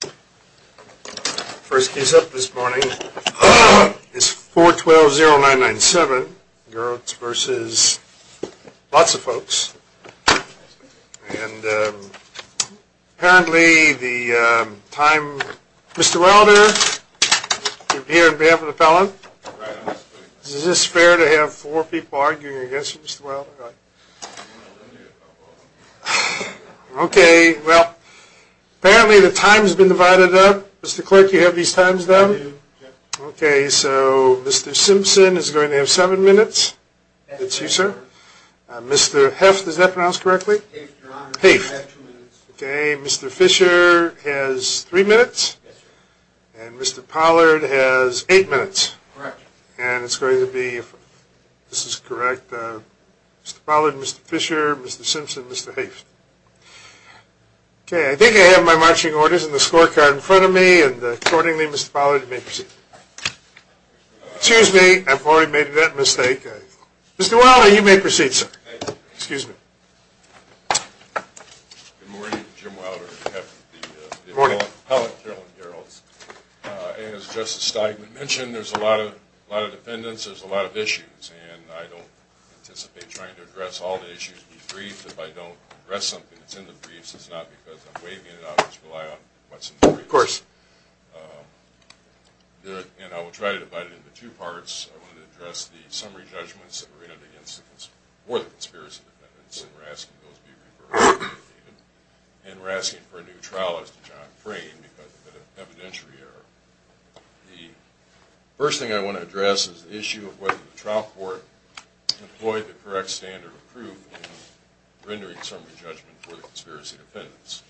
First case up this morning is 4-12-0-9-9-7 Garrelts v. Lots of Folks, and apparently the time, Mr. Wilder, you're here on behalf of the Pellon. Is this fair to have four people arguing against you, Mr. Wilder? Okay, well, apparently the time has been divided up. Mr. Clerk, you have these times done? Okay, so Mr. Simpson is going to have seven minutes. That's you, sir. Mr. Heft, is that pronounced correctly? Heft. Okay, Mr. Fisher has three minutes, and Mr. Pollard has eight minutes. Correct. And it's going to be, if this is correct, Mr. Pollard, Mr. Fisher, Mr. Simpson, Mr. Heft. Okay, I think I have my marching orders and the scorecard in front of me, and accordingly, Mr. Pollard, you may proceed. Excuse me, I've already made that mistake. Mr. Wilder, you may proceed, sir. Excuse me. Good morning, Jim Wilder, on behalf of the Pellon, Carolyn Garrelts. As Justice Steigman mentioned, there's a lot of defendants, there's a lot of issues, and I don't anticipate trying to address all the issues in the briefs. If I don't address something that's in the briefs, it's not because I'm waiving it out, I just rely on what's in the briefs. Of course. And I will try to divide it into two parts. I want to address the summary judgments that were made for the conspiracy defendants, and we're asking those be reversed. And we're asking for a new trial, as to John Crane, because of an evidentiary error. The first thing I want to address is the issue of whether the trial court employed the correct standard of proof in rendering summary judgment for the conspiracy defendants.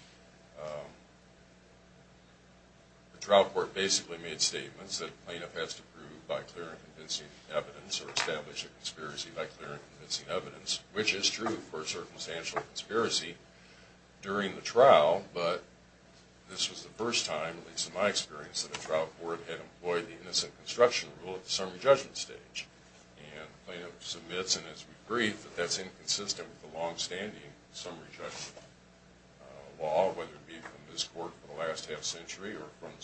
The trial court basically made statements that a plaintiff has to prove by clear and convincing evidence or establish a conspiracy by clear and convincing evidence, which is true for a circumstantial conspiracy during the trial, but this was the first time, at least in my experience, that a trial court had employed the innocent construction rule at the summary judgment stage. And the plaintiff submits in its brief that that's inconsistent with the longstanding summary judgment law, whether it be from this court for the last half century or from the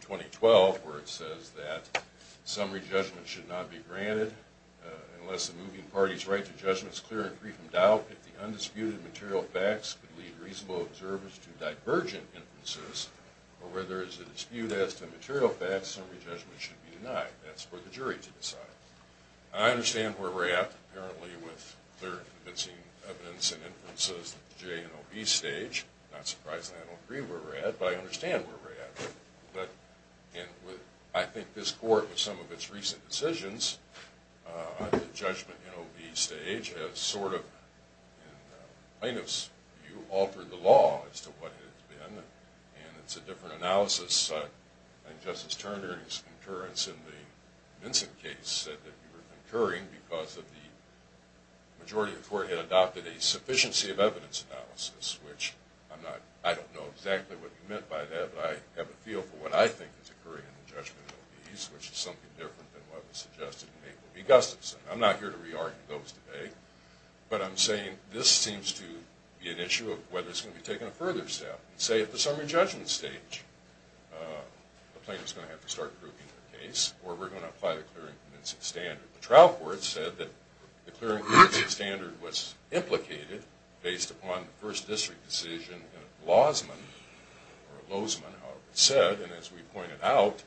2012, where it says that summary judgment should not be granted unless a moving party's right to judgment is clear and free from doubt, if the undisputed material facts could lead reasonable observers to divergent inferences, or where there is a dispute as to material facts, summary judgment should be denied. That's for the jury to decide. I understand where we're at, apparently with clear and convincing evidence and inferences at the J&OB stage. Not surprisingly, I don't agree where we're at, but I understand where we're at. But I think this court, with some of its recent decisions on the judgment J&OB stage, has sort of, in the plaintiff's view, altered the law as to what it has been, and it's a different analysis. I think Justice Turner, in his concurrence in the Vinson case, said that we were concurring because the majority of the court had adopted a sufficiency of I don't know exactly what he meant by that, but I have a feel for what I think is occurring in the judgment of these, which is something different than what was suggested in April v. Gustafson. I'm not here to re-argue those today, but I'm saying this seems to be an issue of whether it's going to be taking a further step. Say, at the summary judgment stage, the plaintiff's going to have to start proving the case, or we're going to apply the clear and convincing standard. The trial court said that the clear and convincing standard was implicated based upon the first district decision of Lozman, or Lozman, however it said, and as we pointed out,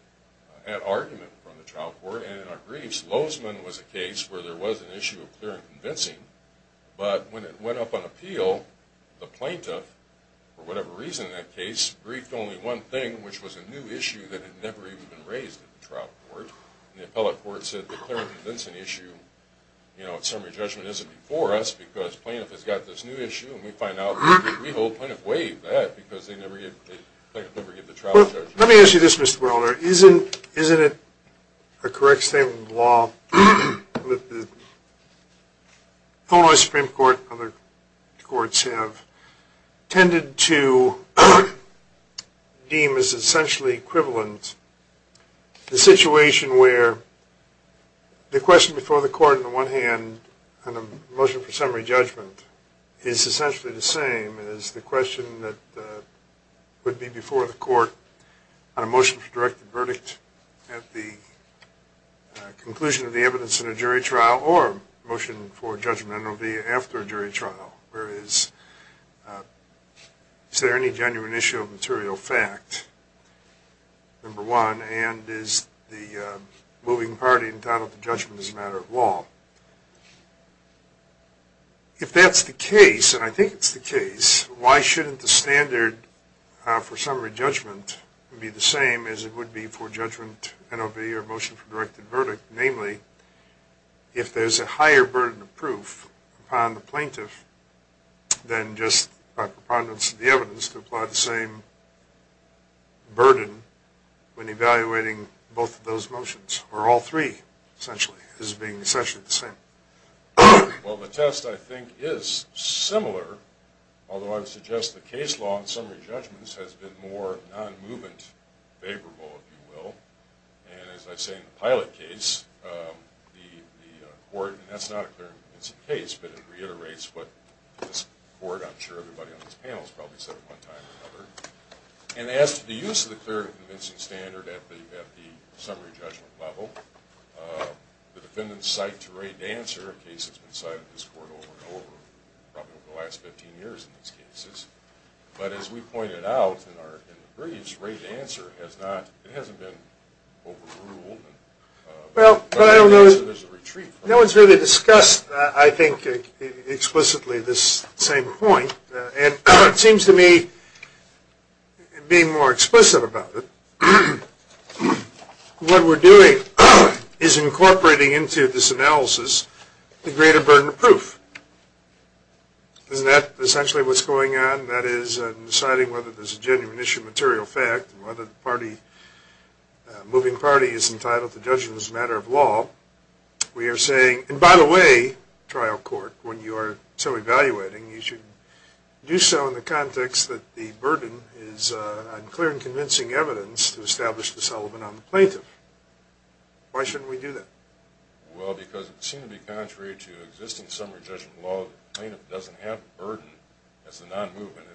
had argument from the trial court. And in our briefs, Lozman was a case where there was an issue of clear and convincing, but when it went up on appeal, the plaintiff, for whatever reason in that case, briefed only one thing, which was a new issue that had never even been raised at the trial court. And the appellate court said the clear and convincing issue, you know, at summary judgment, isn't before us because plaintiff has got this new issue, and we find out, we hold plaintiff way back because they never give, the plaintiff never gave the trial judgment. Let me ask you this, Mr. Buehler. Isn't it a correct statement of the law that the Illinois Supreme Court and other courts have tended to deem as essentially equivalent the situation where the question before the court on the one hand, on a motion for summary judgment, is essentially the same as the question that would be before the court on a motion for directed verdict at the conclusion of the evidence in a jury trial, or motion for judgment will be after a jury trial, where is, is there any genuine issue of material fact, number one, moving party entitled to judgment is a matter of law. If that's the case, and I think it's the case, why shouldn't the standard for summary judgment be the same as it would be for judgment NOV or motion for directed verdict? Namely, if there's a higher burden of proof upon the plaintiff than just by preponderance of the evidence to apply the same burden when evaluating both of those motions, or all three, essentially, as being essentially the same. Well, the test, I think, is similar, although I would suggest the case law on summary judgments has been more non-movement favorable, if you will, and as I say in the pilot case, the court, and that's not a clear and convincing case, but it reiterates what this court, I'm sure everybody on this panel has probably said at one time or another, and as to the use of the clear and convincing standard at the summary judgment level, the defendants cite to Ray Dancer, a case that's been cited in this court over and over, probably over the last 15 years in these cases, but as we pointed out in the briefs, Ray Dancer has not, it hasn't been overruled, and there's a retreat from it. No one's really discussed, I think, explicitly this same point, and it seems to me, being more explicit about it, what we're doing is incorporating into this analysis the greater burden of proof. Isn't that essentially what's going on? That is, in deciding whether there's a genuine issue of material fact, whether the party, moving party, is entitled to judgment as a matter of law, we are saying, and by the way, trial court, when you are so evaluating, you should do so in the context that the burden is on clear and convincing evidence to establish the settlement on the plaintiff. Why shouldn't we do that? Well, because it would seem to be contrary to existing summary judgment law that the plaintiff doesn't have a burden as a non-movement,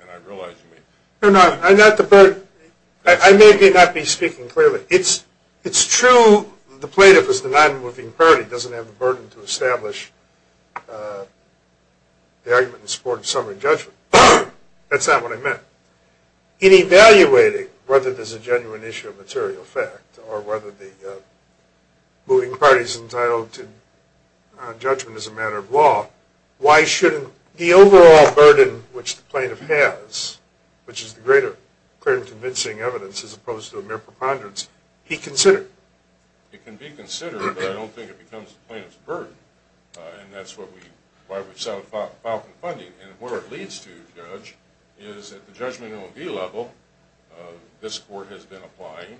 and I realize you mean... No, no, I'm not the burden. I may or may not be speaking clearly. It's true the plaintiff is the non-moving party, doesn't have the burden to establish the argument in support of summary judgment. That's not what I meant. In evaluating whether there's a genuine issue of material fact or whether the moving party is entitled to judgment as a matter of law, why shouldn't the overall burden which the greater clear and convincing evidence as opposed to a mere preponderance be considered? It can be considered, but I don't think it becomes the plaintiff's burden, and that's why we filed for funding. And what it leads to, Judge, is at the judgment OMB level, this court has been applying,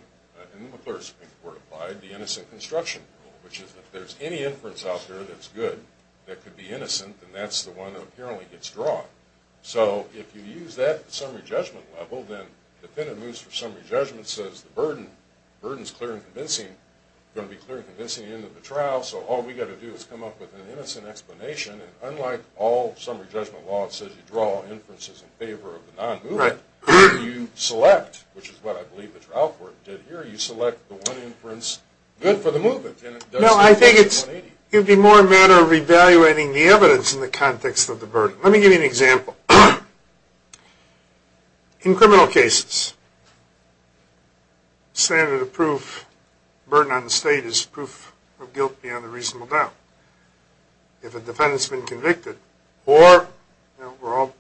and the McClure Supreme Court applied, the innocent construction rule, which is if there's any inference out there that's good that could be innocent, then that's the one that apparently gets drawn. So if you use that at the summary judgment level, then the defendant moves for summary judgment, says the burden is clear and convincing, going to be clear and convincing at the end of the trial, so all we've got to do is come up with an innocent explanation. And unlike all summary judgment law, it says you draw inferences in favor of the non-moving, you select, which is what I believe the trial court did here, you select the one inference good for the movement. No, I think it would be more a matter of evaluating the evidence in the context of the burden. Let me give you an example. In criminal cases, standard of proof, burden on the state is proof of guilt beyond a reasonable doubt. If a defendant's been convicted, or, you know, we're all,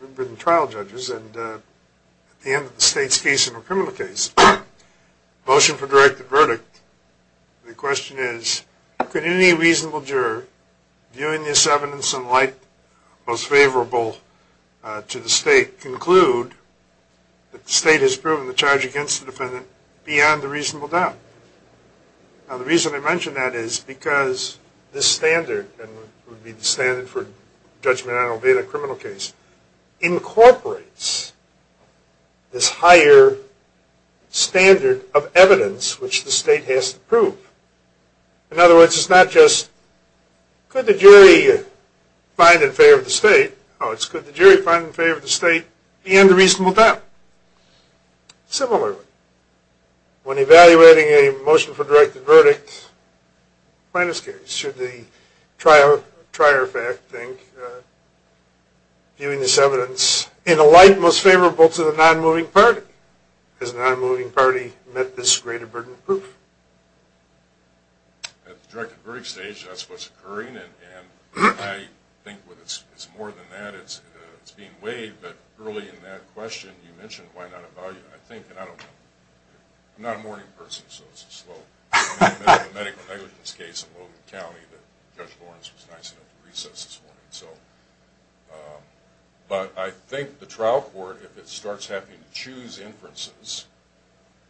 we've been trial judges, and at the end of the state's case in a criminal case, motion for directed verdict, the question is, could any reasonable juror, viewing this evidence in light most favorable to the state, conclude that the state has proven the charge against the defendant beyond a reasonable doubt? Now, the reason I mention that is because this standard, and it would be the standard for judgment on a beta criminal case, incorporates this higher standard of evidence, which the In other words, it's not just, could the jury find in favor of the state? Oh, it's could the jury find in favor of the state beyond a reasonable doubt? Similarly, when evaluating a motion for directed verdict, plaintiff's case, should the trial, trier fact think, viewing this evidence in a light most favorable to the non-moving party, has the non-moving party met this greater burden of proof? At the directed verdict stage, that's what's occurring, and I think it's more than that, it's being weighed, but early in that question, you mentioned why not evaluate. I think, and I don't know, I'm not a morning person, so it's a slow, medical negligence case in Logan County that Judge Lawrence was nice enough to recess this morning, so. But I think the trial court, if it starts having to choose inferences,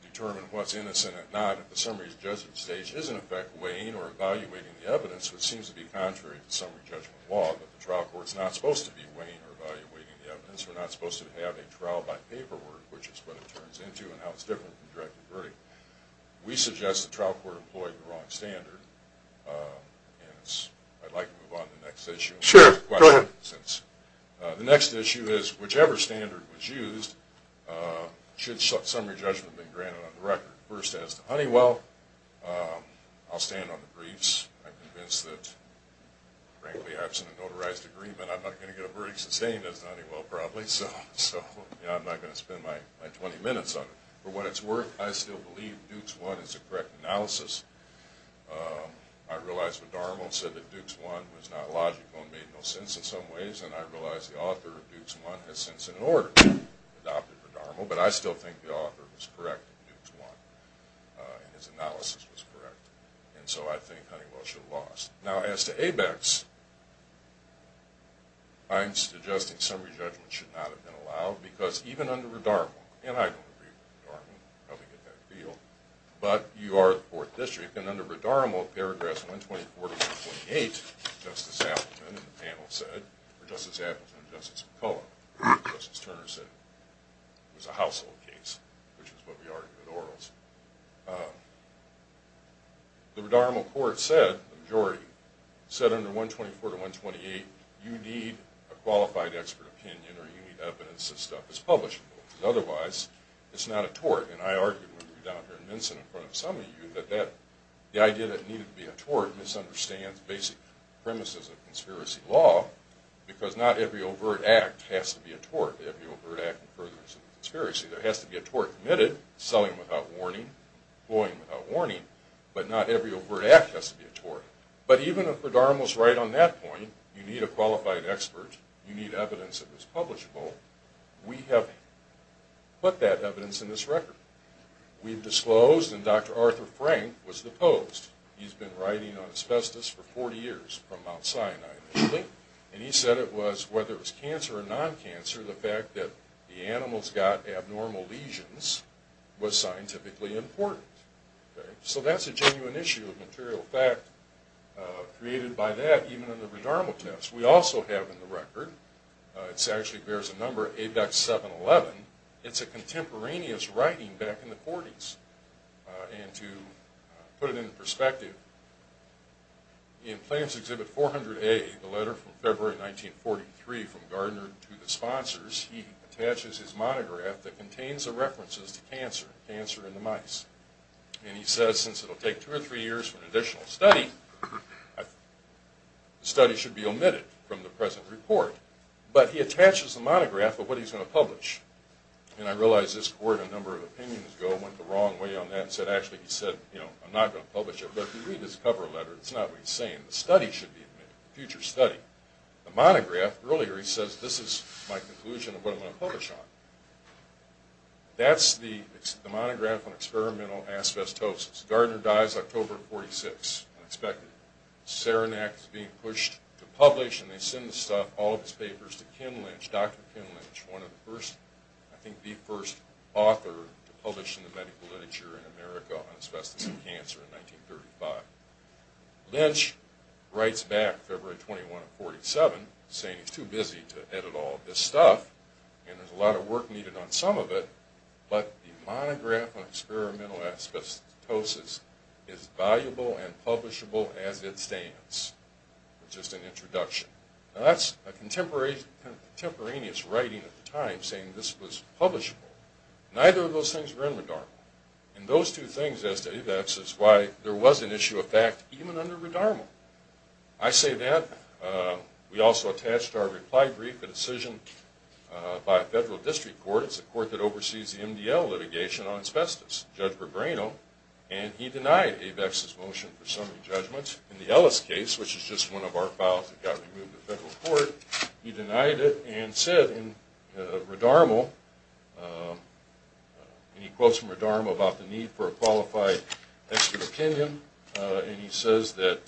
determine what's innocent and not, if the summary's judgment stage is in effect weighing or evaluating the evidence, which seems to be contrary to summary judgment law, but the trial court's not supposed to be weighing or evaluating the evidence, we're not supposed to have a trial by paperwork, which is what it turns into and how it's different from directed verdict. We suggest the trial court employed the wrong standard, and I'd like to move on to the next issue. Sure, go ahead. The next issue is, whichever standard was used, should summary judgment be granted on the record? First, as to Honeywell, I'll stand on the briefs. I'm convinced that, frankly, absent a notarized agreement, I'm not going to get a verdict sustained as to Honeywell, probably, so I'm not going to spend my 20 minutes on it. For what it's worth, I still believe Dukes 1 is a correct analysis. I realize Radarmo said that Dukes 1 was not logical and made no sense in some ways, and I realize the author of Dukes 1 has since, in order, adopted Radarmo, but I still think the author was correct in Dukes 1, and his analysis was correct, and so I think Honeywell should have lost. Now, as to ABECs, I'm suggesting summary judgment should not have been allowed, because even under Radarmo, and I don't agree with Radarmo, but you are the 4th District, and under Radarmo, paragraphs 124-128, Justice Appleton and Justice McCullough, Justice Turner said it was a household case, which is what we argue with orals. The Radarmo court said, the majority, said under 124-128, you need a qualified expert opinion or you need evidence that stuff is publishable, because otherwise it's not a tort. And I argued with you down here in Minson in front of some of you, that the idea that it needed to be a tort misunderstands basic premises of conspiracy law, because not every overt act has to be a tort. Every overt act furthers a conspiracy. There has to be a tort committed, selling without warning, employing without warning, but not every overt act has to be a tort. But even if Radarmo's right on that point, you need a qualified expert, you need evidence that it's publishable, we have put that evidence in this record. We've disclosed, and Dr. Arthur Frank was the post. He's been writing on asbestos for 40 years from Mount Sinai, and he said it was, whether it was cancer or non-cancer, the fact that the animals got abnormal lesions was scientifically important. So that's a genuine issue of material fact created by that, even in the Radarmo test. We also have in the record, it actually bears a number, ABEX 711. It's a contemporaneous writing back in the 40s. And to put it into perspective, in Plans Exhibit 400A, the letter from February 1943 from Gardner to the sponsors, he attaches his monograph that contains the references to cancer, cancer in the mice. And he says since it will take two or three years for an additional study, the study should be omitted from the present report. But he attaches the monograph of what he's going to publish. And I realize this court, a number of opinions ago, went the wrong way on that and said actually he said, you know, I'm not going to publish it. But if you read his cover letter, it's not what he's saying. The study should be omitted, future study. The monograph, earlier he says this is my conclusion of what I'm going to publish on. That's the monograph on experimental asbestosis. So Gardner dies October of 1946, unexpected. Saranac is being pushed to publish and they send all of his papers to Ken Lynch, Dr. Ken Lynch, one of the first, I think the first author to publish in the medical literature in America on asbestos and cancer in 1935. Lynch writes back February 21 of 1947 saying he's too busy to edit all of this stuff and there's a lot of work needed on some of it, but the monograph on experimental asbestosis is valuable and publishable as it stands. Just an introduction. Now that's a contemporaneous writing at the time saying this was publishable. Neither of those things were in Redarmo. And those two things as to why there was an issue of fact even under Redarmo. I say that. We also attached our reply brief, a decision by a federal district court. It's a court that oversees the MDL litigation on asbestos, Judge Rebrano, and he denied ABEX's motion for summary judgments. In the Ellis case, which is just one of our files that got removed to federal court, he denied it and said in Redarmo, and he quotes from Redarmo about the need for a qualified expert opinion, and he says that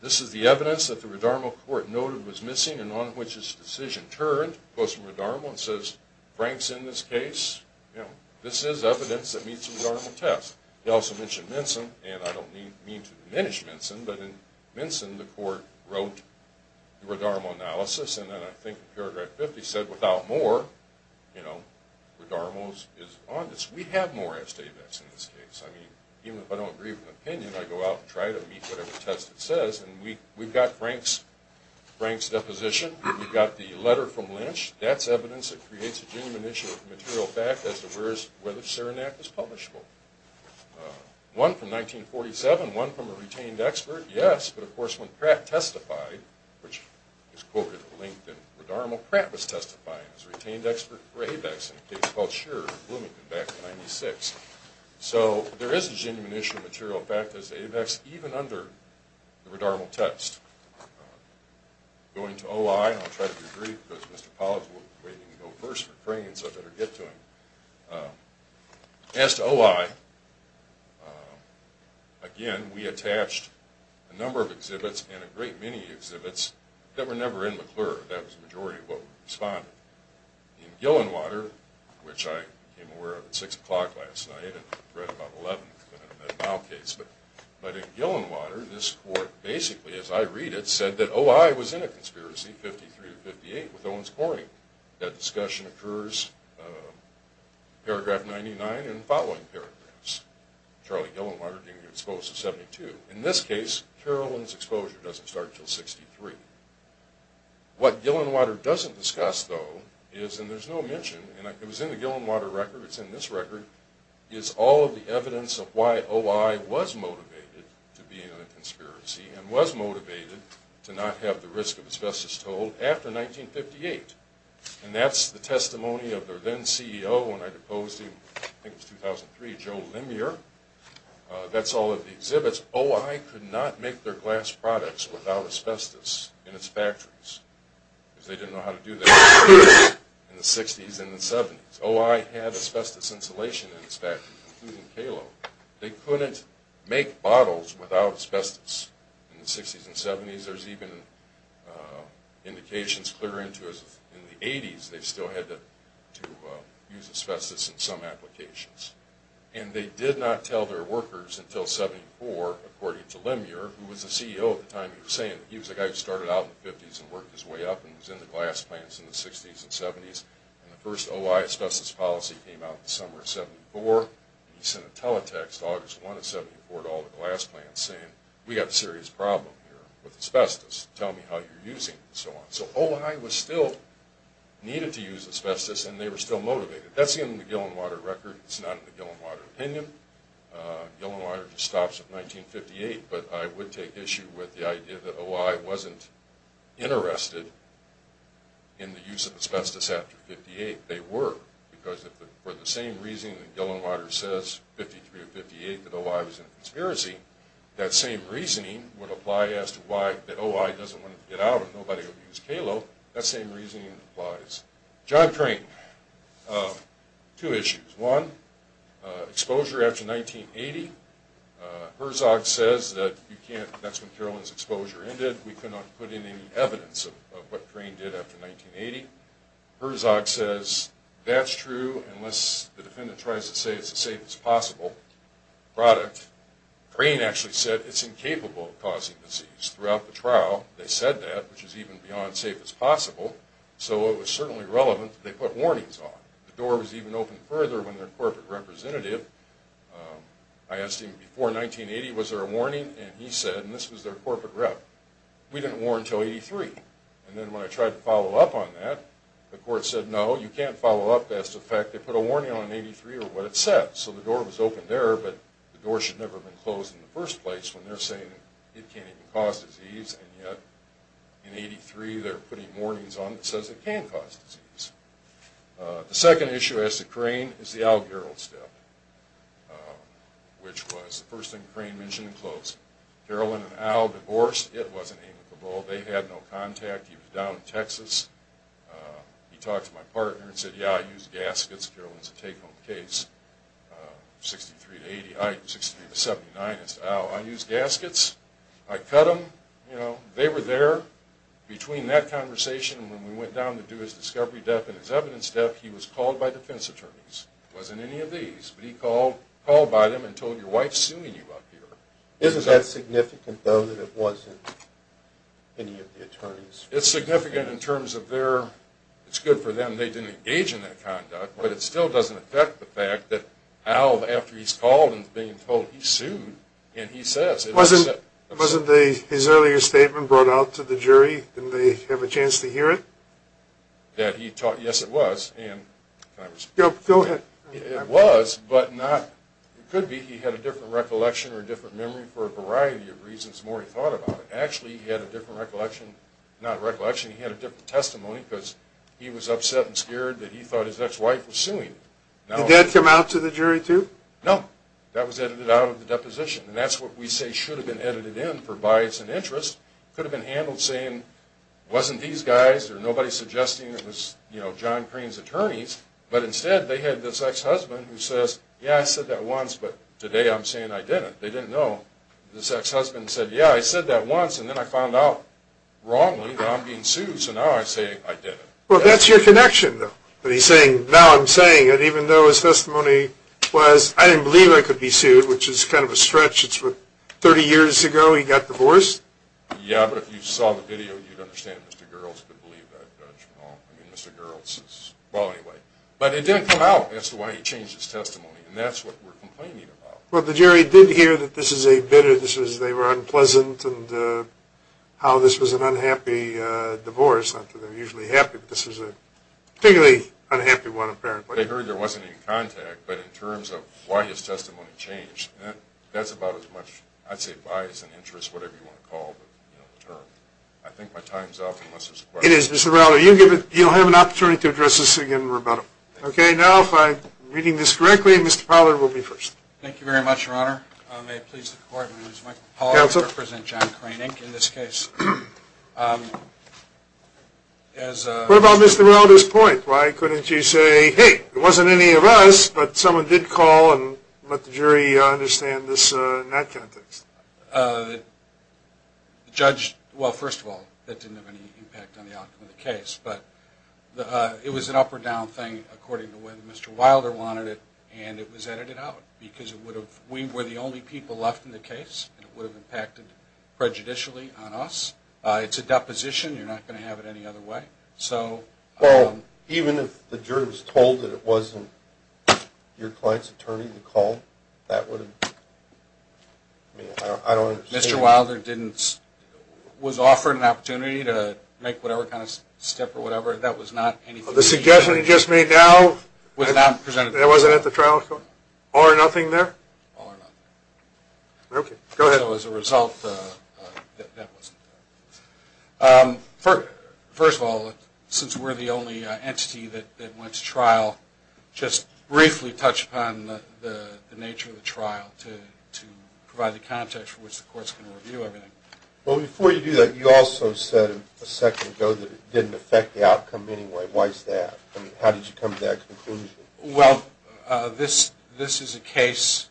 this is the evidence that the Redarmo court noted was missing and on which his decision turned. He quotes from Redarmo and says Frank's in this case. This is evidence that meets the Redarmo test. He also mentioned Minson, and I don't mean to diminish Minson, but in Minson the court wrote the Redarmo analysis, and then I think in paragraph 50 said without more, you know, Redarmo is on this. We have more ABEX in this case. I mean, even if I don't agree with an opinion, I go out and try to meet whatever test it says, and we've got Frank's deposition. We've got the letter from Lynch. That's evidence that creates a genuine issue of material fact as to whether Saranac was publishable. One from 1947, one from a retained expert, yes, but of course when Pratt testified, which is quoted at length in Redarmo, Pratt was testifying as a retained expert for ABEX in a case called Scherer in Bloomington back in 1996. So there is a genuine issue of material fact as to ABEX even under the Redarmo test. Going to OI, and I'll try to be brief because Mr. Pollack is waiting to go first for Crane, so I better get to him. As to OI, again, we attached a number of exhibits and a great many exhibits that were never in McClure. That was the majority of what we responded. In Gillenwater, which I became aware of at 6 o'clock last night, and read about 11 at the time of that case, but in Gillenwater, this court basically, as I read it, said that OI was in a conspiracy, 53 to 58, with Owens Corning. That discussion occurs in paragraph 99 and the following paragraphs. Charlie Gillenwater being exposed to 72. In this case, Carolyn's exposure doesn't start until 63. What Gillenwater doesn't discuss, though, is, and there's no mention, and it was in the Gillenwater record, it's in this record, is all of the evidence of why OI was motivated to be in a conspiracy and was motivated to not have the risk of asbestos told after 1958. And that's the testimony of their then-CEO, when I deposed him, I think it was 2003, Joe Limier. That's all of the exhibits. Because OI could not make their glass products without asbestos in its factories, because they didn't know how to do that in the 60s and the 70s. OI had asbestos insulation in its factories, including Kalo. They couldn't make bottles without asbestos in the 60s and 70s. There's even indications clear into, in the 80s, they still had to use asbestos in some applications. And they did not tell their workers until 74, according to Limier, who was the CEO at the time, he was saying he was the guy who started out in the 50s and worked his way up and was into glass plants in the 60s and 70s. And the first OI asbestos policy came out in the summer of 74, and he sent a teletext August 1 of 74 to all the glass plants saying, we have a serious problem here with asbestos, tell me how you're using it, and so on. So OI still needed to use asbestos, and they were still motivated. That's in the Gillenwater record, it's not in the Gillenwater opinion. Gillenwater just stops at 1958, but I would take issue with the idea that OI wasn't interested in the use of asbestos after 58. They were, because for the same reason that Gillenwater says, 53 or 58, that OI was a conspiracy, that same reasoning would apply as to why that OI doesn't want to get out if nobody would use Kalo, that same reasoning applies. John Crane, two issues. One, exposure after 1980. Herzog says that you can't, that's when Carolyn's exposure ended, we could not put in any evidence of what Crane did after 1980. Herzog says that's true unless the defendant tries to say it's the safest possible product. Crane actually said it's incapable of causing disease. Throughout the trial, they said that, which is even beyond safe as possible, so it was certainly relevant that they put warnings on. The door was even opened further when their corporate representative, I asked him before 1980 was there a warning, and he said, and this was their corporate rep, we didn't warn until 83. And then when I tried to follow up on that, the court said no, you can't follow up as to the fact they put a warning on in 83 or what it said. So the door was opened there, but the door should never have been closed in the first place when they're saying it can't even cause disease, and yet in 83 they're putting warnings on that says it can cause disease. The second issue as to Crane is the Al Gerald step, which was the first thing Crane mentioned in closing. Carolyn and Al divorced. It wasn't amicable. They had no contact. He was down in Texas. He talked to my partner and said, yeah, I use gaskets. Carolyn's a take-home case. 63 to 79 is to Al, I use gaskets. I cut them. They were there. Between that conversation and when we went down to do his discovery death and his evidence death, he was called by defense attorneys. It wasn't any of these, but he called by them and told, your wife's suing you up here. Isn't that significant, though, that it wasn't any of the attorneys? It's significant in terms of it's good for them, they didn't engage in that conduct, but it still doesn't affect the fact that Al, after he's called and is being told he's sued, Wasn't his earlier statement brought out to the jury? Didn't they have a chance to hear it? Yes, it was. Go ahead. It was, but it could be he had a different recollection or a different memory for a variety of reasons the more he thought about it. Actually, he had a different recollection. Not recollection, he had a different testimony because he was upset and scared that he thought his next wife was suing him. Did that come out to the jury, too? No, that was edited out of the deposition, and that's what we say should have been edited in for bias and interest. It could have been handled saying, wasn't these guys, there's nobody suggesting it was John Crane's attorneys, but instead they had this ex-husband who says, yeah, I said that once, but today I'm saying I didn't. They didn't know. This ex-husband said, yeah, I said that once, and then I found out wrongly that I'm being sued, so now I'm saying I didn't. Well, that's your connection, though, that he's saying, now I'm saying it, even though his testimony was, I didn't believe I could be sued, which is kind of a stretch. It's what, 30 years ago he got divorced? Yeah, but if you saw the video, you'd understand. Mr. Girls could believe that. I mean, Mr. Girls is, well, anyway. But it didn't come out as to why he changed his testimony, and that's what we're complaining about. Well, the jury did hear that this is a bitter, this is they were unpleasant and how this was an unhappy divorce. Not that they're usually happy, but this was a particularly unhappy one, apparently. They heard there wasn't any contact. But in terms of why his testimony changed, that's about as much, I'd say bias and interest, whatever you want to call the term. I think my time's up, unless there's a question. It is, Mr. Rauder. You'll have an opportunity to address this again in rebuttal. Okay, now, if I'm reading this correctly, Mr. Pollard will be first. Thank you very much, Your Honor. May it please the Court, my name is Mike Pollard. Counsel. I represent John Krainink in this case. What about Mr. Rauder's point? Why couldn't you say, hey, there wasn't any of us, but someone did call and let the jury understand this in that context? The judge, well, first of all, that didn't have any impact on the outcome of the case. But it was an up or down thing according to when Mr. Wilder wanted it, and it was edited out because we were the only people left in the case, and it would have impacted prejudicially on us. It's a deposition. You're not going to have it any other way. Well, even if the jury was told that it wasn't your client's attorney that called, that would have, I mean, I don't understand. Mr. Wilder was offered an opportunity to make whatever kind of step or whatever. That was not anything that he did. The suggestion he just made now was not presented to the jury. It wasn't at the trial? All or nothing there? All or nothing. Okay, go ahead. So as a result, that wasn't there. First of all, since we're the only entity that went to trial, just briefly touch upon the nature of the trial to provide the context for which the court's going to review everything. Well, before you do that, you also said a second ago that it didn't affect the outcome in any way. Why is that? I mean, how did you come to that conclusion? Well, this is a case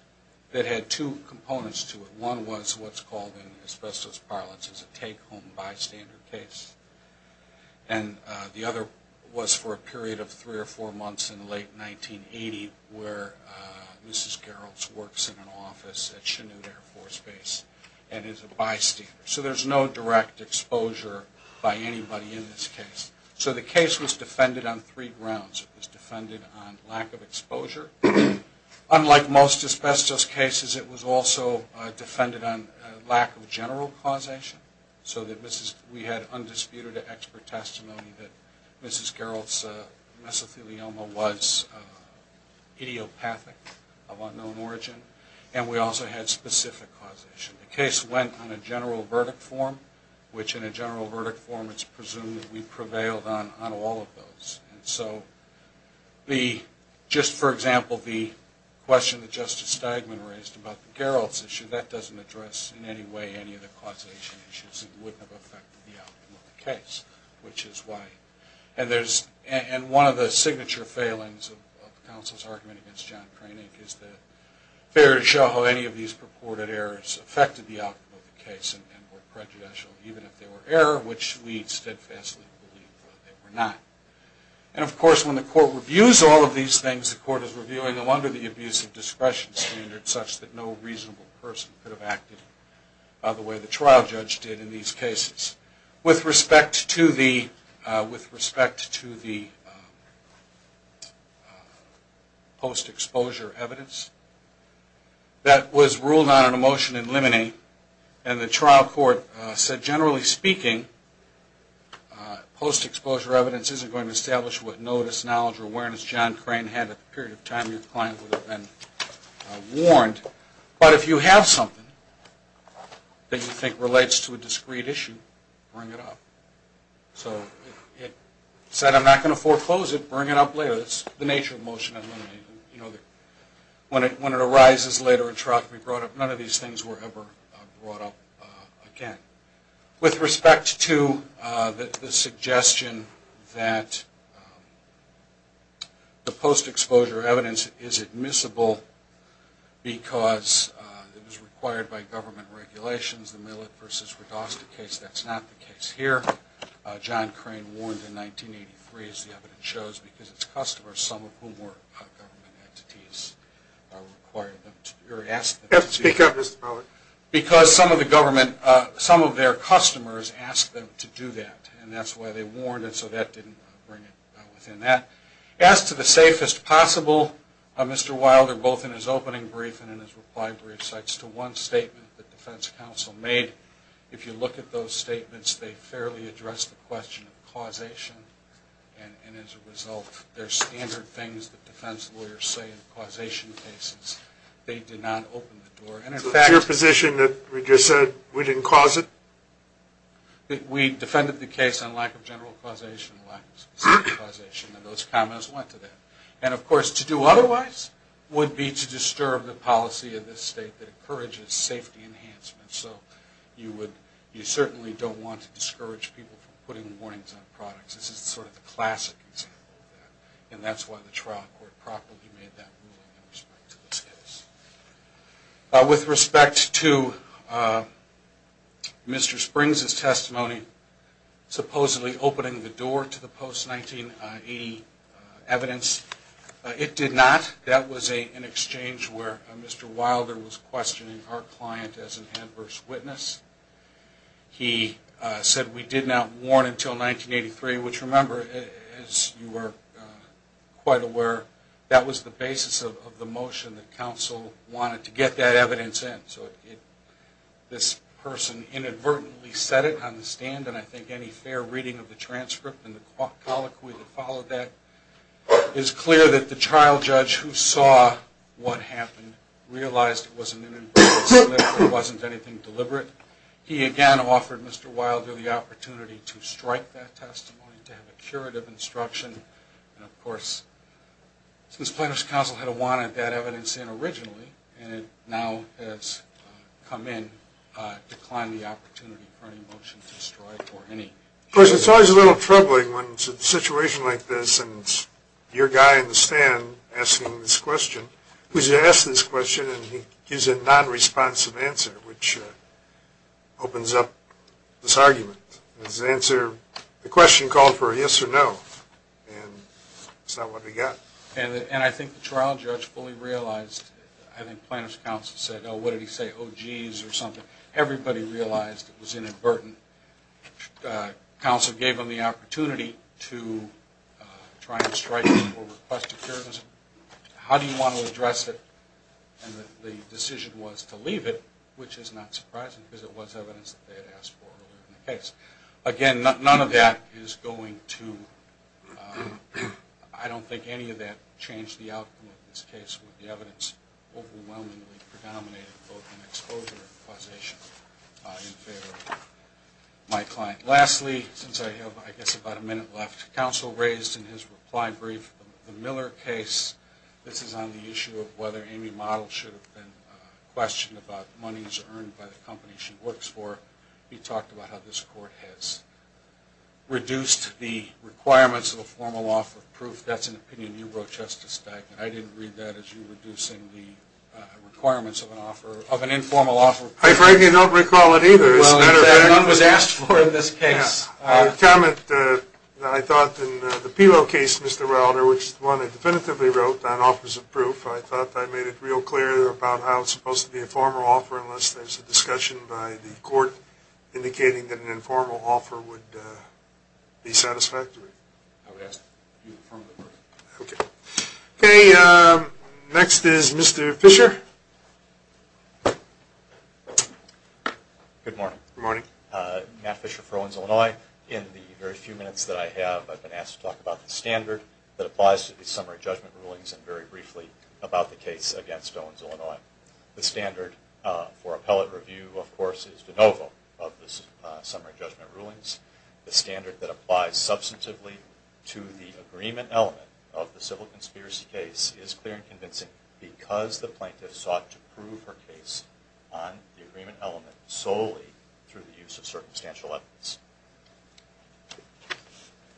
that had two components to it. One was what's called in asbestos parlance as a take-home bystander case. And the other was for a period of three or four months in late 1980 where Mrs. Geralds works in an office at Chinoot Air Force Base and is a bystander. So there's no direct exposure by anybody in this case. So the case was defended on three grounds. It was defended on lack of exposure. Unlike most asbestos cases, it was also defended on lack of general causation so that we had undisputed expert testimony that Mrs. Geralds' mesothelioma was idiopathic of unknown origin. And we also had specific causation. The case went on a general verdict form, which in a general verdict form it's presumed that we prevailed on all of those. And so just, for example, the question that Justice Steigman raised about the Geralds' issue, that doesn't address in any way any of the causation issues that would have affected the outcome of the case, which is why. And one of the signature failings of the counsel's argument against John Koenig is that fair to show how any of these purported errors affected the outcome of the case and were prejudicial even if they were error, which we steadfastly believe they were not. And, of course, when the court reviews all of these things, the court is reviewing them under the abuse of discretion standard such that no reasonable person could have acted the way the trial judge did in these cases. With respect to the post-exposure evidence, that was ruled on in a motion in limine and the trial court said, generally speaking, post-exposure evidence isn't going to establish what notice, knowledge, or awareness John Crane had at the period of time your client would have been warned. But if you have something that you think relates to a discrete issue, bring it up. So it said, I'm not going to foreclose it, bring it up later. That's the nature of motion in limine. When it arises later in triophany, none of these things were ever brought up again. With respect to the suggestion that the post-exposure evidence is admissible because it was required by government regulations, the Millett v. Redosta case, that's not the case here. John Crane warned in 1983, as the evidence shows, because it's customers, some of whom were government entities, because some of their customers asked them to do that. And that's why they warned, and so that didn't bring it within that. As to the safest possible, Mr. Wilder, both in his opening brief and in his reply brief, cites to one statement that the defense counsel made. If you look at those statements, they fairly address the question of causation and, as a result, they're standard things that defense lawyers say in causation cases. They did not open the door. So it's your position that we just said we didn't cause it? We defended the case on lack of general causation and lack of specific causation, and those comments went to that. And, of course, to do otherwise would be to disturb the policy of this state that encourages safety enhancement. So you certainly don't want to discourage people from putting warnings on products. This is sort of the classic example of that, and that's why the trial court properly made that ruling in respect to this case. With respect to Mr. Springs' testimony supposedly opening the door to the post-1980 evidence, it did not. That was an exchange where Mr. Wilder was questioning our client as an adverse witness. He said we did not warn until 1983, which, remember, as you are quite aware, that was the basis of the motion that counsel wanted to get that evidence in. So this person inadvertently said it on the stand, and I think any fair reading of the transcript and the colloquy that followed that is clear that the trial judge who saw what happened realized it was an inadvertent statement and it wasn't anything deliberate. He again offered Mr. Wilder the opportunity to strike that testimony, to have a curative instruction. And, of course, since plaintiff's counsel had wanted that evidence in originally and it now has come in, it declined the opportunity for any motion to strike or any. Of course, it's always a little troubling when it's a situation like this and it's your guy in the stand asking this question. He was asked this question and he gives a non-responsive answer, which opens up this argument. The question called for a yes or no, and that's not what we got. And I think the trial judge fully realized. I think plaintiff's counsel said, oh, what did he say, oh, geez, or something. Everybody realized it was inadvertent. Counsel gave him the opportunity to try and strike or request a curative instruction. How do you want to address it? And the decision was to leave it, which is not surprising because it was evidence that they had asked for earlier in the case. Again, none of that is going to, I don't think any of that changed the outcome of this case with the evidence overwhelmingly predominating both in exposure and causation in favor of my client. Lastly, since I have, I guess, about a minute left, counsel raised in his reply brief the Miller case. This is on the issue of whether Amy Model should have been questioned about monies earned by the company she works for. He talked about how this court has reduced the requirements of a formal offer of proof. That's an opinion you wrote, Justice Stegman. I didn't read that as you reducing the requirements of an informal offer. I frankly don't recall it either. Well, none was asked for in this case. Yes. A comment that I thought in the Peewell case, Mr. Rauder, which is the one I definitively wrote on offers of proof, I thought I made it real clear about how it's supposed to be a formal offer unless there's a discussion by the court indicating that an informal offer would be satisfactory. I would ask that it be a formal offer. Okay. Okay. Next is Mr. Fisher. Good morning. Good morning. Matt Fisher for Owens, Illinois. In the very few minutes that I have, I've been asked to talk about the standard that applies to the summary judgment rulings and very briefly about the case against Owens, Illinois. The standard for appellate review, of course, is de novo of the summary judgment rulings. The standard that applies substantively to the agreement element of the civil conspiracy case is clear and convincing because the plaintiff sought to prove her case on the agreement element solely through the use of circumstantial evidence.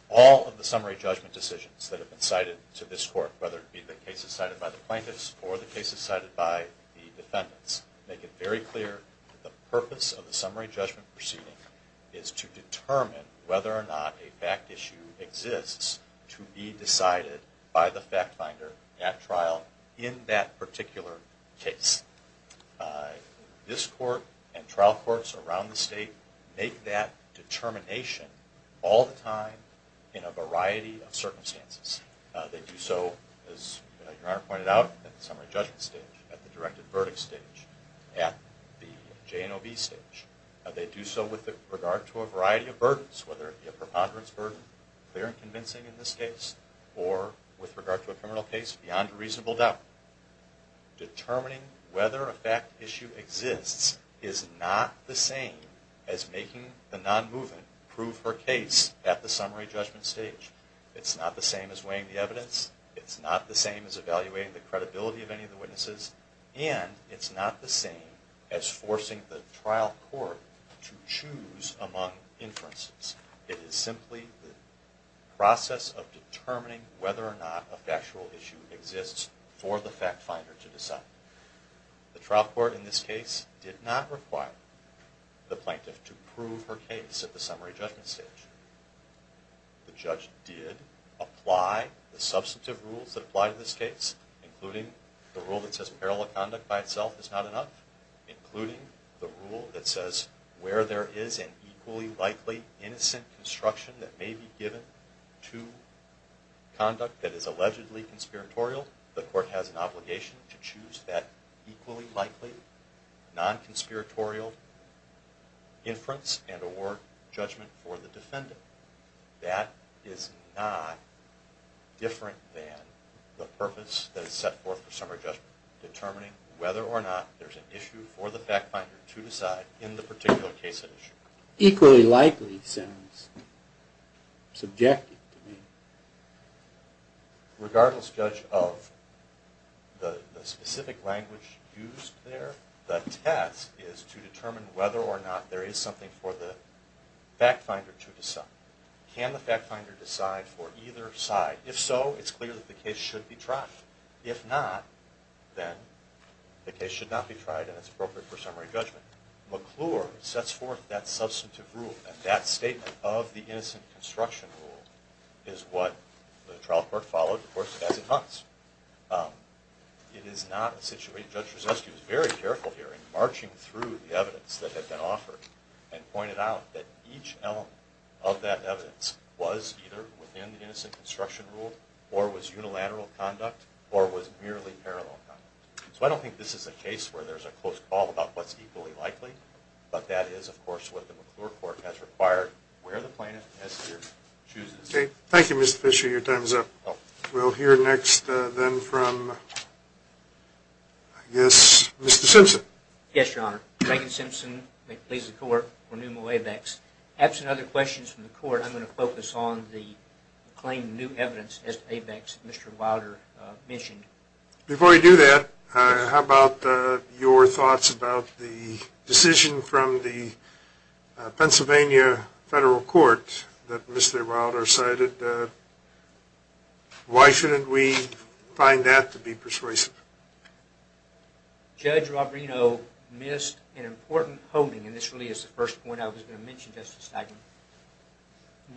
All of the summary judgment decisions that have been cited to this court, whether it be the cases cited by the plaintiffs or the cases cited by the defendants, make it very clear that the purpose of the summary judgment proceeding is to determine whether or not a fact issue exists to be decided by the fact finder at trial in that particular case. This court and trial courts around the state make that determination all the time in a variety of circumstances. They do so, as Your Honor pointed out, at the summary judgment stage, at the directed verdict stage, at the J&OB stage. They do so with regard to a variety of burdens, whether it be a preponderance burden, clear and convincing in this case, or with regard to a criminal case, beyond a reasonable doubt. Determining whether a fact issue exists is not the same as making the non-movement prove her case at the summary judgment stage. It's not the same as weighing the evidence. It's not the same as evaluating the credibility of any of the witnesses. And it's not the same as forcing the trial court to choose among inferences. It is simply the process of determining whether or not a factual issue exists for the fact finder to decide. The trial court in this case did not require the plaintiff to prove her case at the summary judgment stage. The judge did apply the substantive rules that apply to this case, including the rule that says parallel conduct by itself is not enough, including the rule that says where there is an equally likely innocent construction that may be given to conduct that is allegedly conspiratorial, the court has an obligation to choose that equally likely non-conspiratorial inference and award judgment for the defendant. That is not different than the purpose that is set forth for summary judgment, determining whether or not there's an issue for the fact finder to decide in the particular case at issue. Equally likely sounds subjective to me. Regardless, Judge, of the specific language used there, the test is to determine whether or not there is something for the fact finder to decide. Can the fact finder decide for either side? If so, it's clear that the case should be tried. If not, then the case should not be tried, and it's appropriate for summary judgment. McClure sets forth that substantive rule, and that statement of the innocent construction rule is what the trial court followed, of course, as it was. It is not a situation Judge Rozetsky was very careful here in marching through the evidence that had been offered and pointed out that each element of that evidence was either within the innocent construction rule, or was unilateral conduct, or was merely parallel conduct. So I don't think this is a case where there's a close call about what's equally likely, but that is, of course, what the McClure court has required, where the plaintiff has here chooses. Okay. Thank you, Mr. Fisher. Your time is up. We'll hear next, then, from, I guess, Mr. Simpson. Yes, Your Honor. Reagan Simpson. May it please the Court. Renewable Waybacks. Absent other questions from the Court, I'm going to focus on the claim of new evidence as to ABEX that Mr. Wilder mentioned. Before we do that, how about your thoughts about the decision from the Pennsylvania Federal Court that Mr. Wilder cited? Why shouldn't we find that to be persuasive? Judge Robrino missed an important holding, and this really is the first point I was going to mention, Justice Steigman.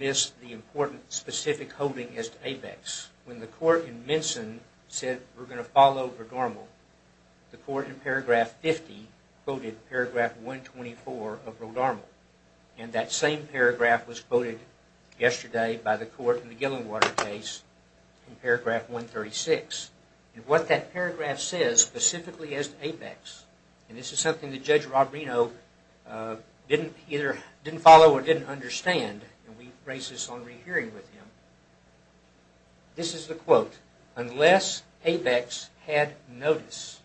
Missed the important, specific holding as to ABEX. When the court in Minson said, we're going to follow Rodarmal, the court in paragraph 50 quoted paragraph 124 of Rodarmal, and that same paragraph was quoted yesterday by the court in the Gillingwater case in paragraph 136. And what that paragraph says, specifically as to ABEX, and this is something that Judge Robrino either didn't follow or didn't understand, and we embrace this on rehearing with him, this is the quote, Unless ABEX had notice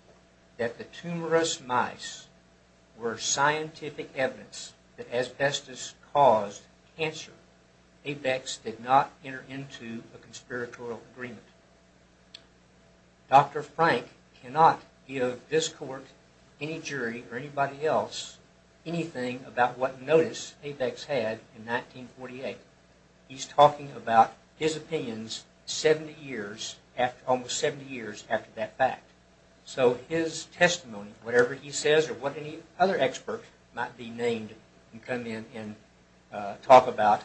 that the tumorous mice were scientific evidence that asbestos caused cancer, ABEX did not enter into a conspiratorial agreement. Dr. Frank cannot give this court, any jury, or anybody else, anything about what notice ABEX had in 1948. He's talking about his opinions 70 years, almost 70 years after that fact. So his testimony, whatever he says, or what any other expert might be named and come in and talk about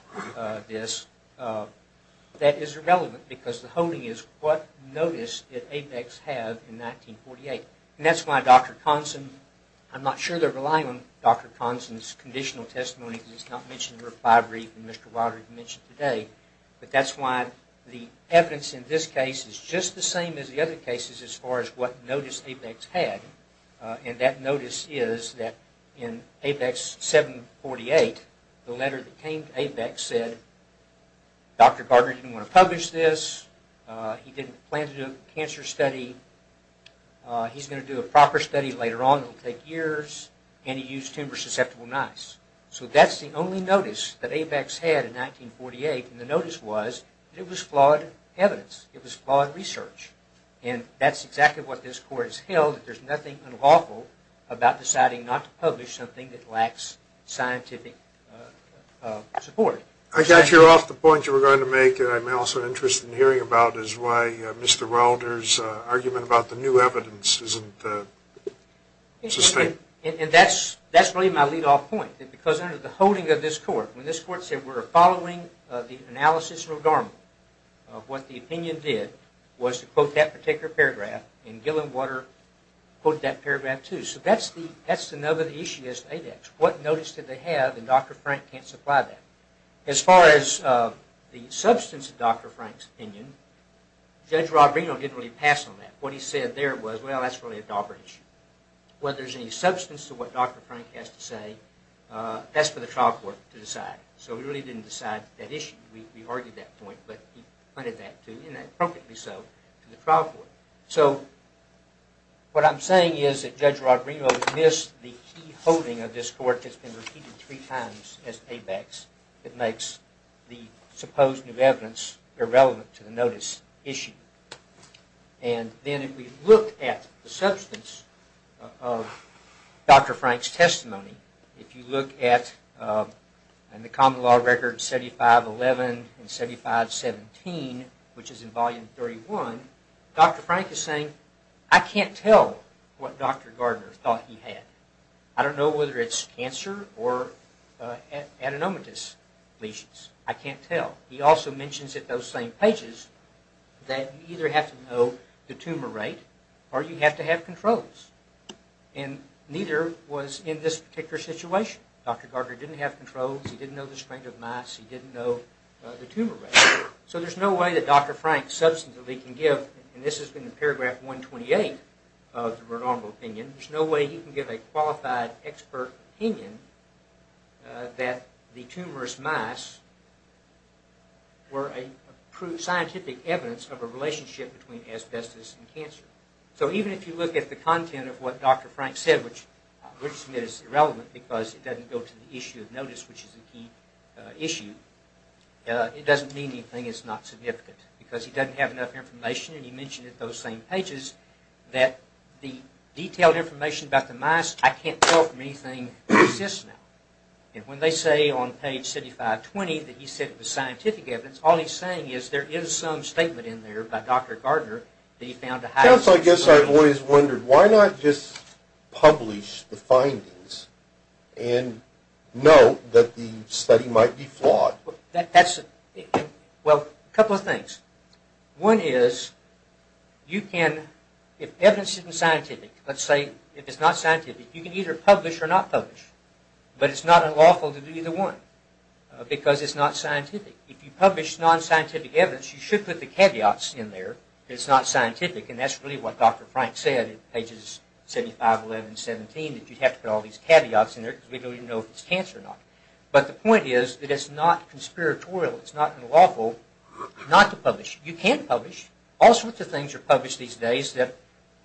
this, that is irrelevant because the holding is what notice did ABEX have in 1948. And that's why Dr. Conson, I'm not sure they're relying on Dr. Conson's conditional testimony because it's not mentioned in the refinery that Mr. Watery mentioned today, but that's why the evidence in this case is just the same as the other cases as far as what notice ABEX had. And that notice is that in ABEX 748, the letter that came to ABEX said, Dr. Gardner didn't want to publish this, he didn't plan to do a cancer study, he's going to do a proper study later on that will take years, and he used tumor-susceptible mice. So that's the only notice that ABEX had in 1948, and the notice was that it was flawed evidence, it was flawed research. And that's exactly what this court has held, that there's nothing unlawful about deciding not to publish something that lacks scientific support. I got you off the point you were going to make that I'm also interested in hearing about, is why Mr. Wilder's argument about the new evidence isn't sustained. And that's really my lead-off point, because under the holding of this court, when this court said we're following the analysis and regard of what the opinion did, was to quote that particular paragraph, and Gillenwater quoted that paragraph too. So that's the nub of the issue as to ABEX. What notice did they have, and Dr. Frank can't supply that. As far as the substance of Dr. Frank's opinion, Judge Rob Reno didn't really pass on that. What he said there was, well, that's really a dauber issue. Whether there's any substance to what Dr. Frank has to say, that's for the trial court to decide. So we really didn't decide that issue. We argued that point, but he pointed that to, and appropriately so, to the trial court. So what I'm saying is that Judge Rob Reno missed the key holding of this court that's been repeated three times as ABEX that makes the supposed new evidence irrelevant to the notice issue. And then if we look at the substance of Dr. Frank's testimony, if you look at the common law records 7511 and 7517, which is in volume 31, Dr. Frank is saying, I can't tell what Dr. Gardner thought he had. I don't know whether it's cancer or adenomatous lesions. I can't tell. He also mentions at those same pages that you either have to know the tumor rate or you have to have controls. And neither was in this particular situation. Dr. Gardner didn't have controls. He didn't know the strength of mice. He didn't know the tumor rate. So there's no way that Dr. Frank substantively can give, and this has been in paragraph 128 of the Renormal Opinion, there's no way he can give a qualified expert opinion that the tumorous mice were a scientific evidence of a relationship between asbestos and cancer. So even if you look at the content of what Dr. Frank said, which I would submit is irrelevant because it doesn't go to the issue of notice, which is a key issue, it doesn't mean anything is not significant because he doesn't have enough information, and he mentioned at those same pages that the detailed information about the mice, I can't tell from anything that exists now. And when they say on page 7520 that he said it was scientific evidence, all he's saying is there is some statement in there by Dr. Gardner that he found to have... Counsel, I guess I've always wondered, why not just publish the findings and note that the study might be flawed? Well, a couple of things. One is, you can, if evidence isn't scientific, let's say if it's not scientific, you can either publish or not publish, but it's not unlawful to do either one because it's not scientific. If you publish non-scientific evidence, you should put the caveats in there. It's not scientific, and that's really what Dr. Frank said in pages 75, 11, 17, that you have to put all these caveats in there because we don't even know if it's cancer or not. But the point is that it's not conspiratorial, it's not unlawful not to publish. You can publish. All sorts of things are published these days that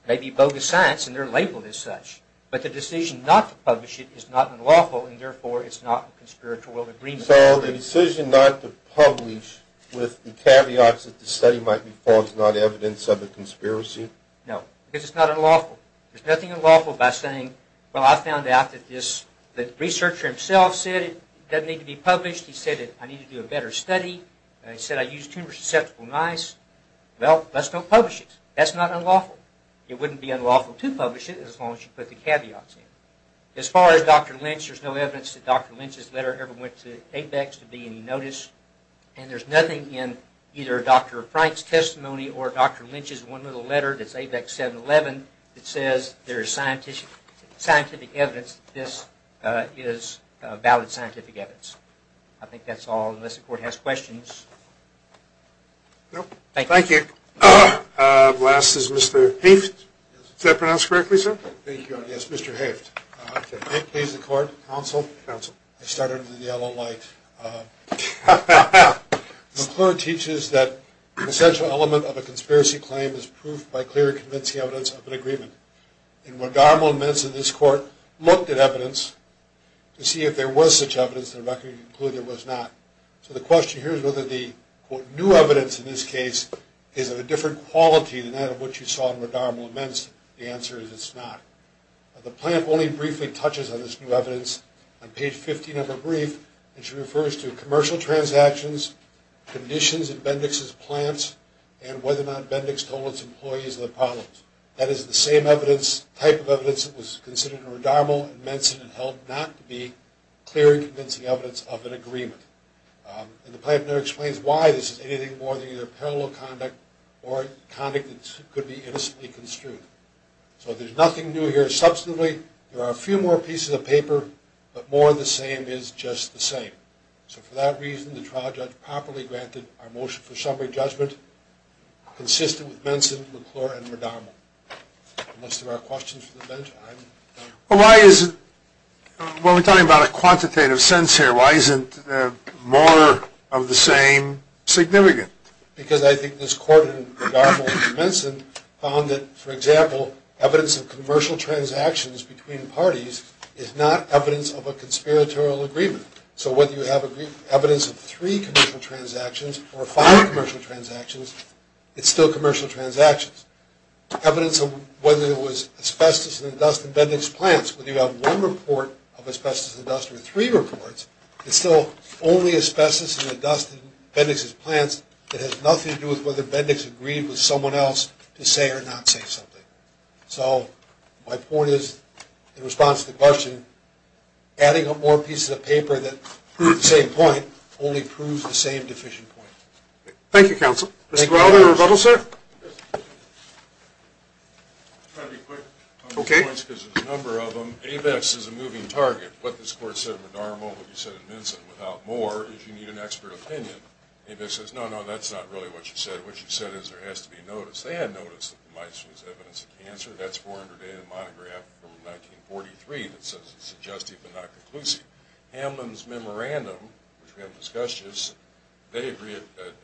may be bogus science, and they're labeled as such. But the decision not to publish it is not unlawful, and therefore it's not a conspiratorial agreement. So the decision not to publish with the caveats that the study might be false is not evidence of a conspiracy? No, because it's not unlawful. There's nothing unlawful about saying, well, I found out that this, the researcher himself said it doesn't need to be published. He said that I need to do a better study. He said I used tumor susceptible mice. Well, let's not publish it. That's not unlawful. It wouldn't be unlawful to publish it as long as you put the caveats in. As far as Dr. Lynch, there's no evidence that Dr. Lynch's letter ever went to ABEX to be in notice, and there's nothing in either Dr. Frank's testimony or Dr. Lynch's one little letter that's ABEX 711 that says there is scientific evidence that this is valid scientific evidence. I think that's all, unless the Court has questions. Thank you. Last is Mr. Haift. Is that pronounced correctly, sir? Yes, Mr. Haift. Mr. Haift, please, the Court, Counsel. Counsel. I started with the yellow light. McClure teaches that an essential element of a conspiracy claim is proof by clear and convincing evidence of an agreement. And Guadarmo-Menz in this Court looked at evidence to see if there was such evidence that a record could conclude there was not. So the question here is whether the quote, new evidence in this case is of a different quality than that of what you saw in Guadarmo-Menz. The answer is it's not. The plaintiff only briefly touches on this new evidence on page 15 of her brief and she refers to commercial transactions, conditions in Bendix's plants, and whether or not Bendix told its employees of the problems. That is the same evidence, type of evidence that was considered in Guadarmo-Menz and held not to be clear and convincing evidence of an agreement. And the plaintiff never explains why this is anything more than either parallel conduct or conduct that could be innocently construed. So there's nothing new here. Substantively, there are a few more pieces of paper, but more of the same is just the same. So for that reason, the trial judge properly granted consistent with Menzin, McClure, and Guadarmo. Unless there are questions for the bench, I'm... Well, why is it... Well, we're talking about a quantitative sense here. Why isn't more of the same significant? Because I think this Court in Guadarmo-Menz For example, evidence of commercial transactions between parties is not evidence of a conspiratorial agreement. So whether you have evidence of three commercial transactions or five commercial transactions, it's still commercial transactions. Evidence of whether it was asbestos in the dust in Bendix's plants, whether you have one report of asbestos in the dust or three reports, it's still only asbestos in the dust in Bendix's plants. It has nothing to do with whether Bendix agreed with someone else to say or not say something. So my point is, in response to the question, adding up more pieces of paper that prove the same point only proves the same deficient point. Thank you, counsel. Mr. Welder, rebuttal, sir? I'll try to be quick on the points because there's a number of them. ABEX is a moving target. What this Court said in Guadarmo, what you said in Menzin, without more, is you need an expert opinion. ABEX says, no, no, that's not really what you said. What you said is there has to be a notice. They had notice that the mice was evidence of cancer. That's 400-day monograph from 1943 that says it's suggestive but not conclusive. Hamlin's memorandum, which we haven't discussed just, they agree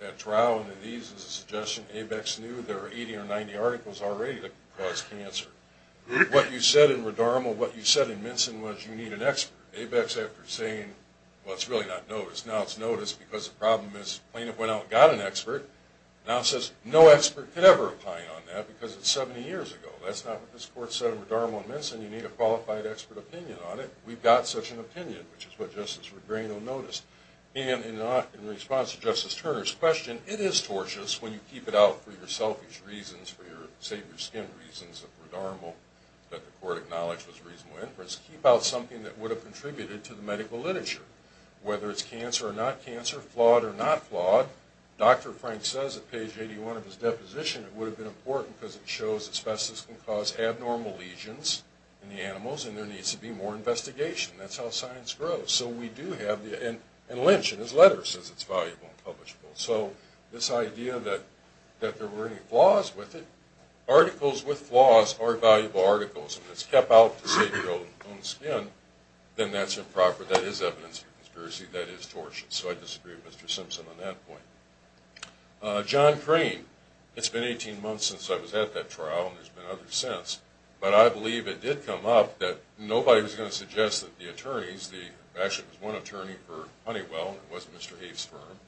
at trial and in these is a suggestion. ABEX knew there were 80 or 90 articles already that caused cancer. What you said in Guadarmo, what you said in Menzin, was you need an expert. ABEX, after saying, well, it's really not notice. Now it's notice because the problem is the plaintiff went out and got an expert. Now it says no expert could ever opine on that because it's 70 years ago. That's not what this Court said in Guadarmo and Menzin. You need a qualified expert opinion on it. We've got such an opinion, which is what Justice Regreno noticed. And in response to Justice Turner's question, it is tortious when you keep it out for your selfish reasons, for your save-your-skin reasons of Guadarmo, that the Court acknowledged was reasonable inference, keep out something that would have contributed to the medical literature. Whether it's cancer or not cancer, flawed or not flawed, Dr. Frank says at page 81 of his deposition it would have been important because it shows asbestos can cause abnormal lesions in the animals and there needs to be more investigation. That's how science grows. And Lynch in his letter says it's valuable and publishable. So this idea that there were any flaws with it, articles with flaws are valuable articles. If it's kept out to save your own skin, then that's improper. That is evidence of conspiracy. That is tortious. So I disagree with Mr. Simpson on that point. John Crane. It's been 18 months since I was at that trial, and there's been others since. But I believe it did come up that nobody was going to suggest that the attorneys, there actually was one attorney for Honeywell, and it was Mr. Heath's firm,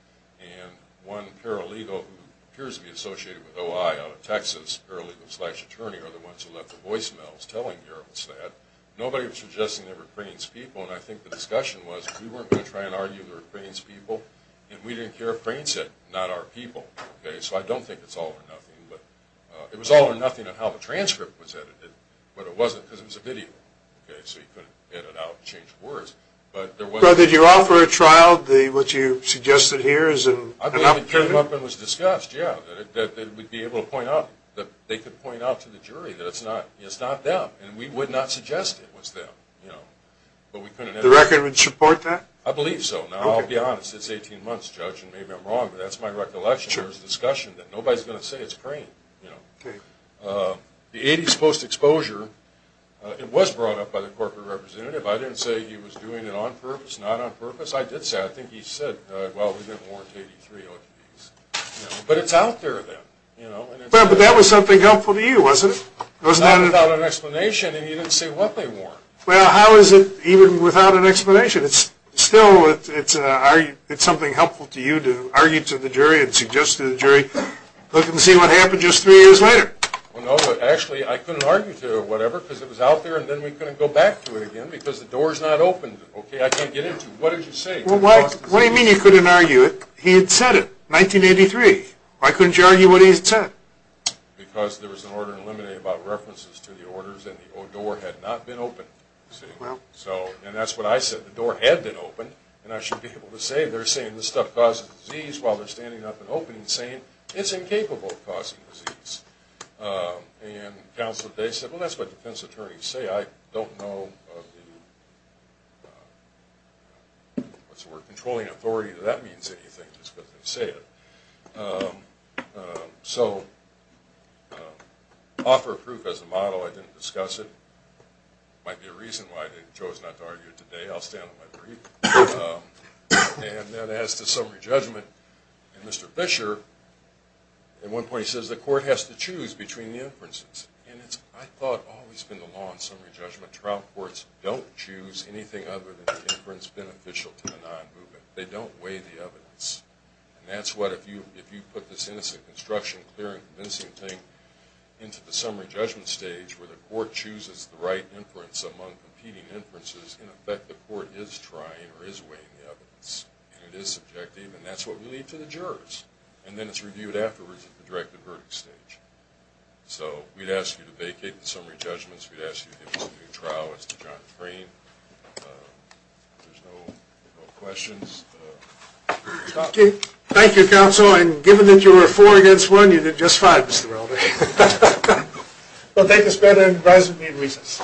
and one paralegal who appears to be associated with OI out of Texas, paralegal-slash-attorney are the ones who left the voicemails telling Garibald's that. Nobody was suggesting they were Crane's people, and I think the discussion was we weren't going to try and argue they were Crane's people, and we didn't care if Crane said, not our people. So I don't think it's all or nothing. It was all or nothing on how the transcript was edited, but it wasn't because it was a video. So you couldn't edit it out and change the words. Did you offer a trial, what you suggested here, as an opportunity? I believe it came up and was discussed, yeah, that they could point out to the jury that it's not them, and we would not suggest it was them. The record would support that? I believe so. Now, I'll be honest, it's 18 months, Judge, and maybe I'm wrong, but that's my recollection. There was a discussion that nobody's going to say it's Crane. The 80s post-exposure, it was brought up by the corporate representative. I didn't say he was doing it on purpose, not on purpose. I did say, I think he said, well, we didn't warrant 83 OTPs. But it's out there then. But that was something helpful to you, wasn't it? Not without an explanation, and he didn't say what they warranted. Well, how is it even without an explanation? Still, it's something helpful to you to argue to the jury and suggest to the jury, look and see what happened just three years later. Well, no, actually, I couldn't argue to whatever because it was out there, and then we couldn't go back to it again because the door's not open. I can't get into it. What did you say? What do you mean you couldn't argue it? He had said it, 1983. Why couldn't you argue what he had said? Because there was an order in limine about references to the orders, and the door had not been opened. And that's what I said. The door had been opened. And I should be able to say they're saying this stuff causes disease while they're standing up and opening and saying it's incapable of causing disease. And Counselor Day said, well, that's what defense attorneys say. I don't know of the controlling authority that that means anything just because they say it. So offer proof as a model. I didn't discuss it. Might be a reason why they chose not to argue it today. I'll stand on my brief. And then as to summary judgment, Mr. Fisher, at one point he says, the court has to choose between the inferences. And it's, I thought, always been the law in summary judgment. Trial courts don't choose anything other than the inference beneficial to the non-movement. They don't weigh the evidence. And that's what, if you put this innocent construction, clear and convincing thing, into the summary judgment stage where the court chooses the right inference among competing inferences, in effect the court is trying or is weighing the evidence. And it is subjective. And that's what we leave to the jurors. And then it's reviewed afterwards at the directed verdict stage. So we'd ask you to vacate the summary judgments. We'd ask you to give us a new trial. There's no questions. Thank you, counsel. And given that you were four against one, you did just fine, Mr. Welder. Well, thank you, Spada, and advise if you need reasons.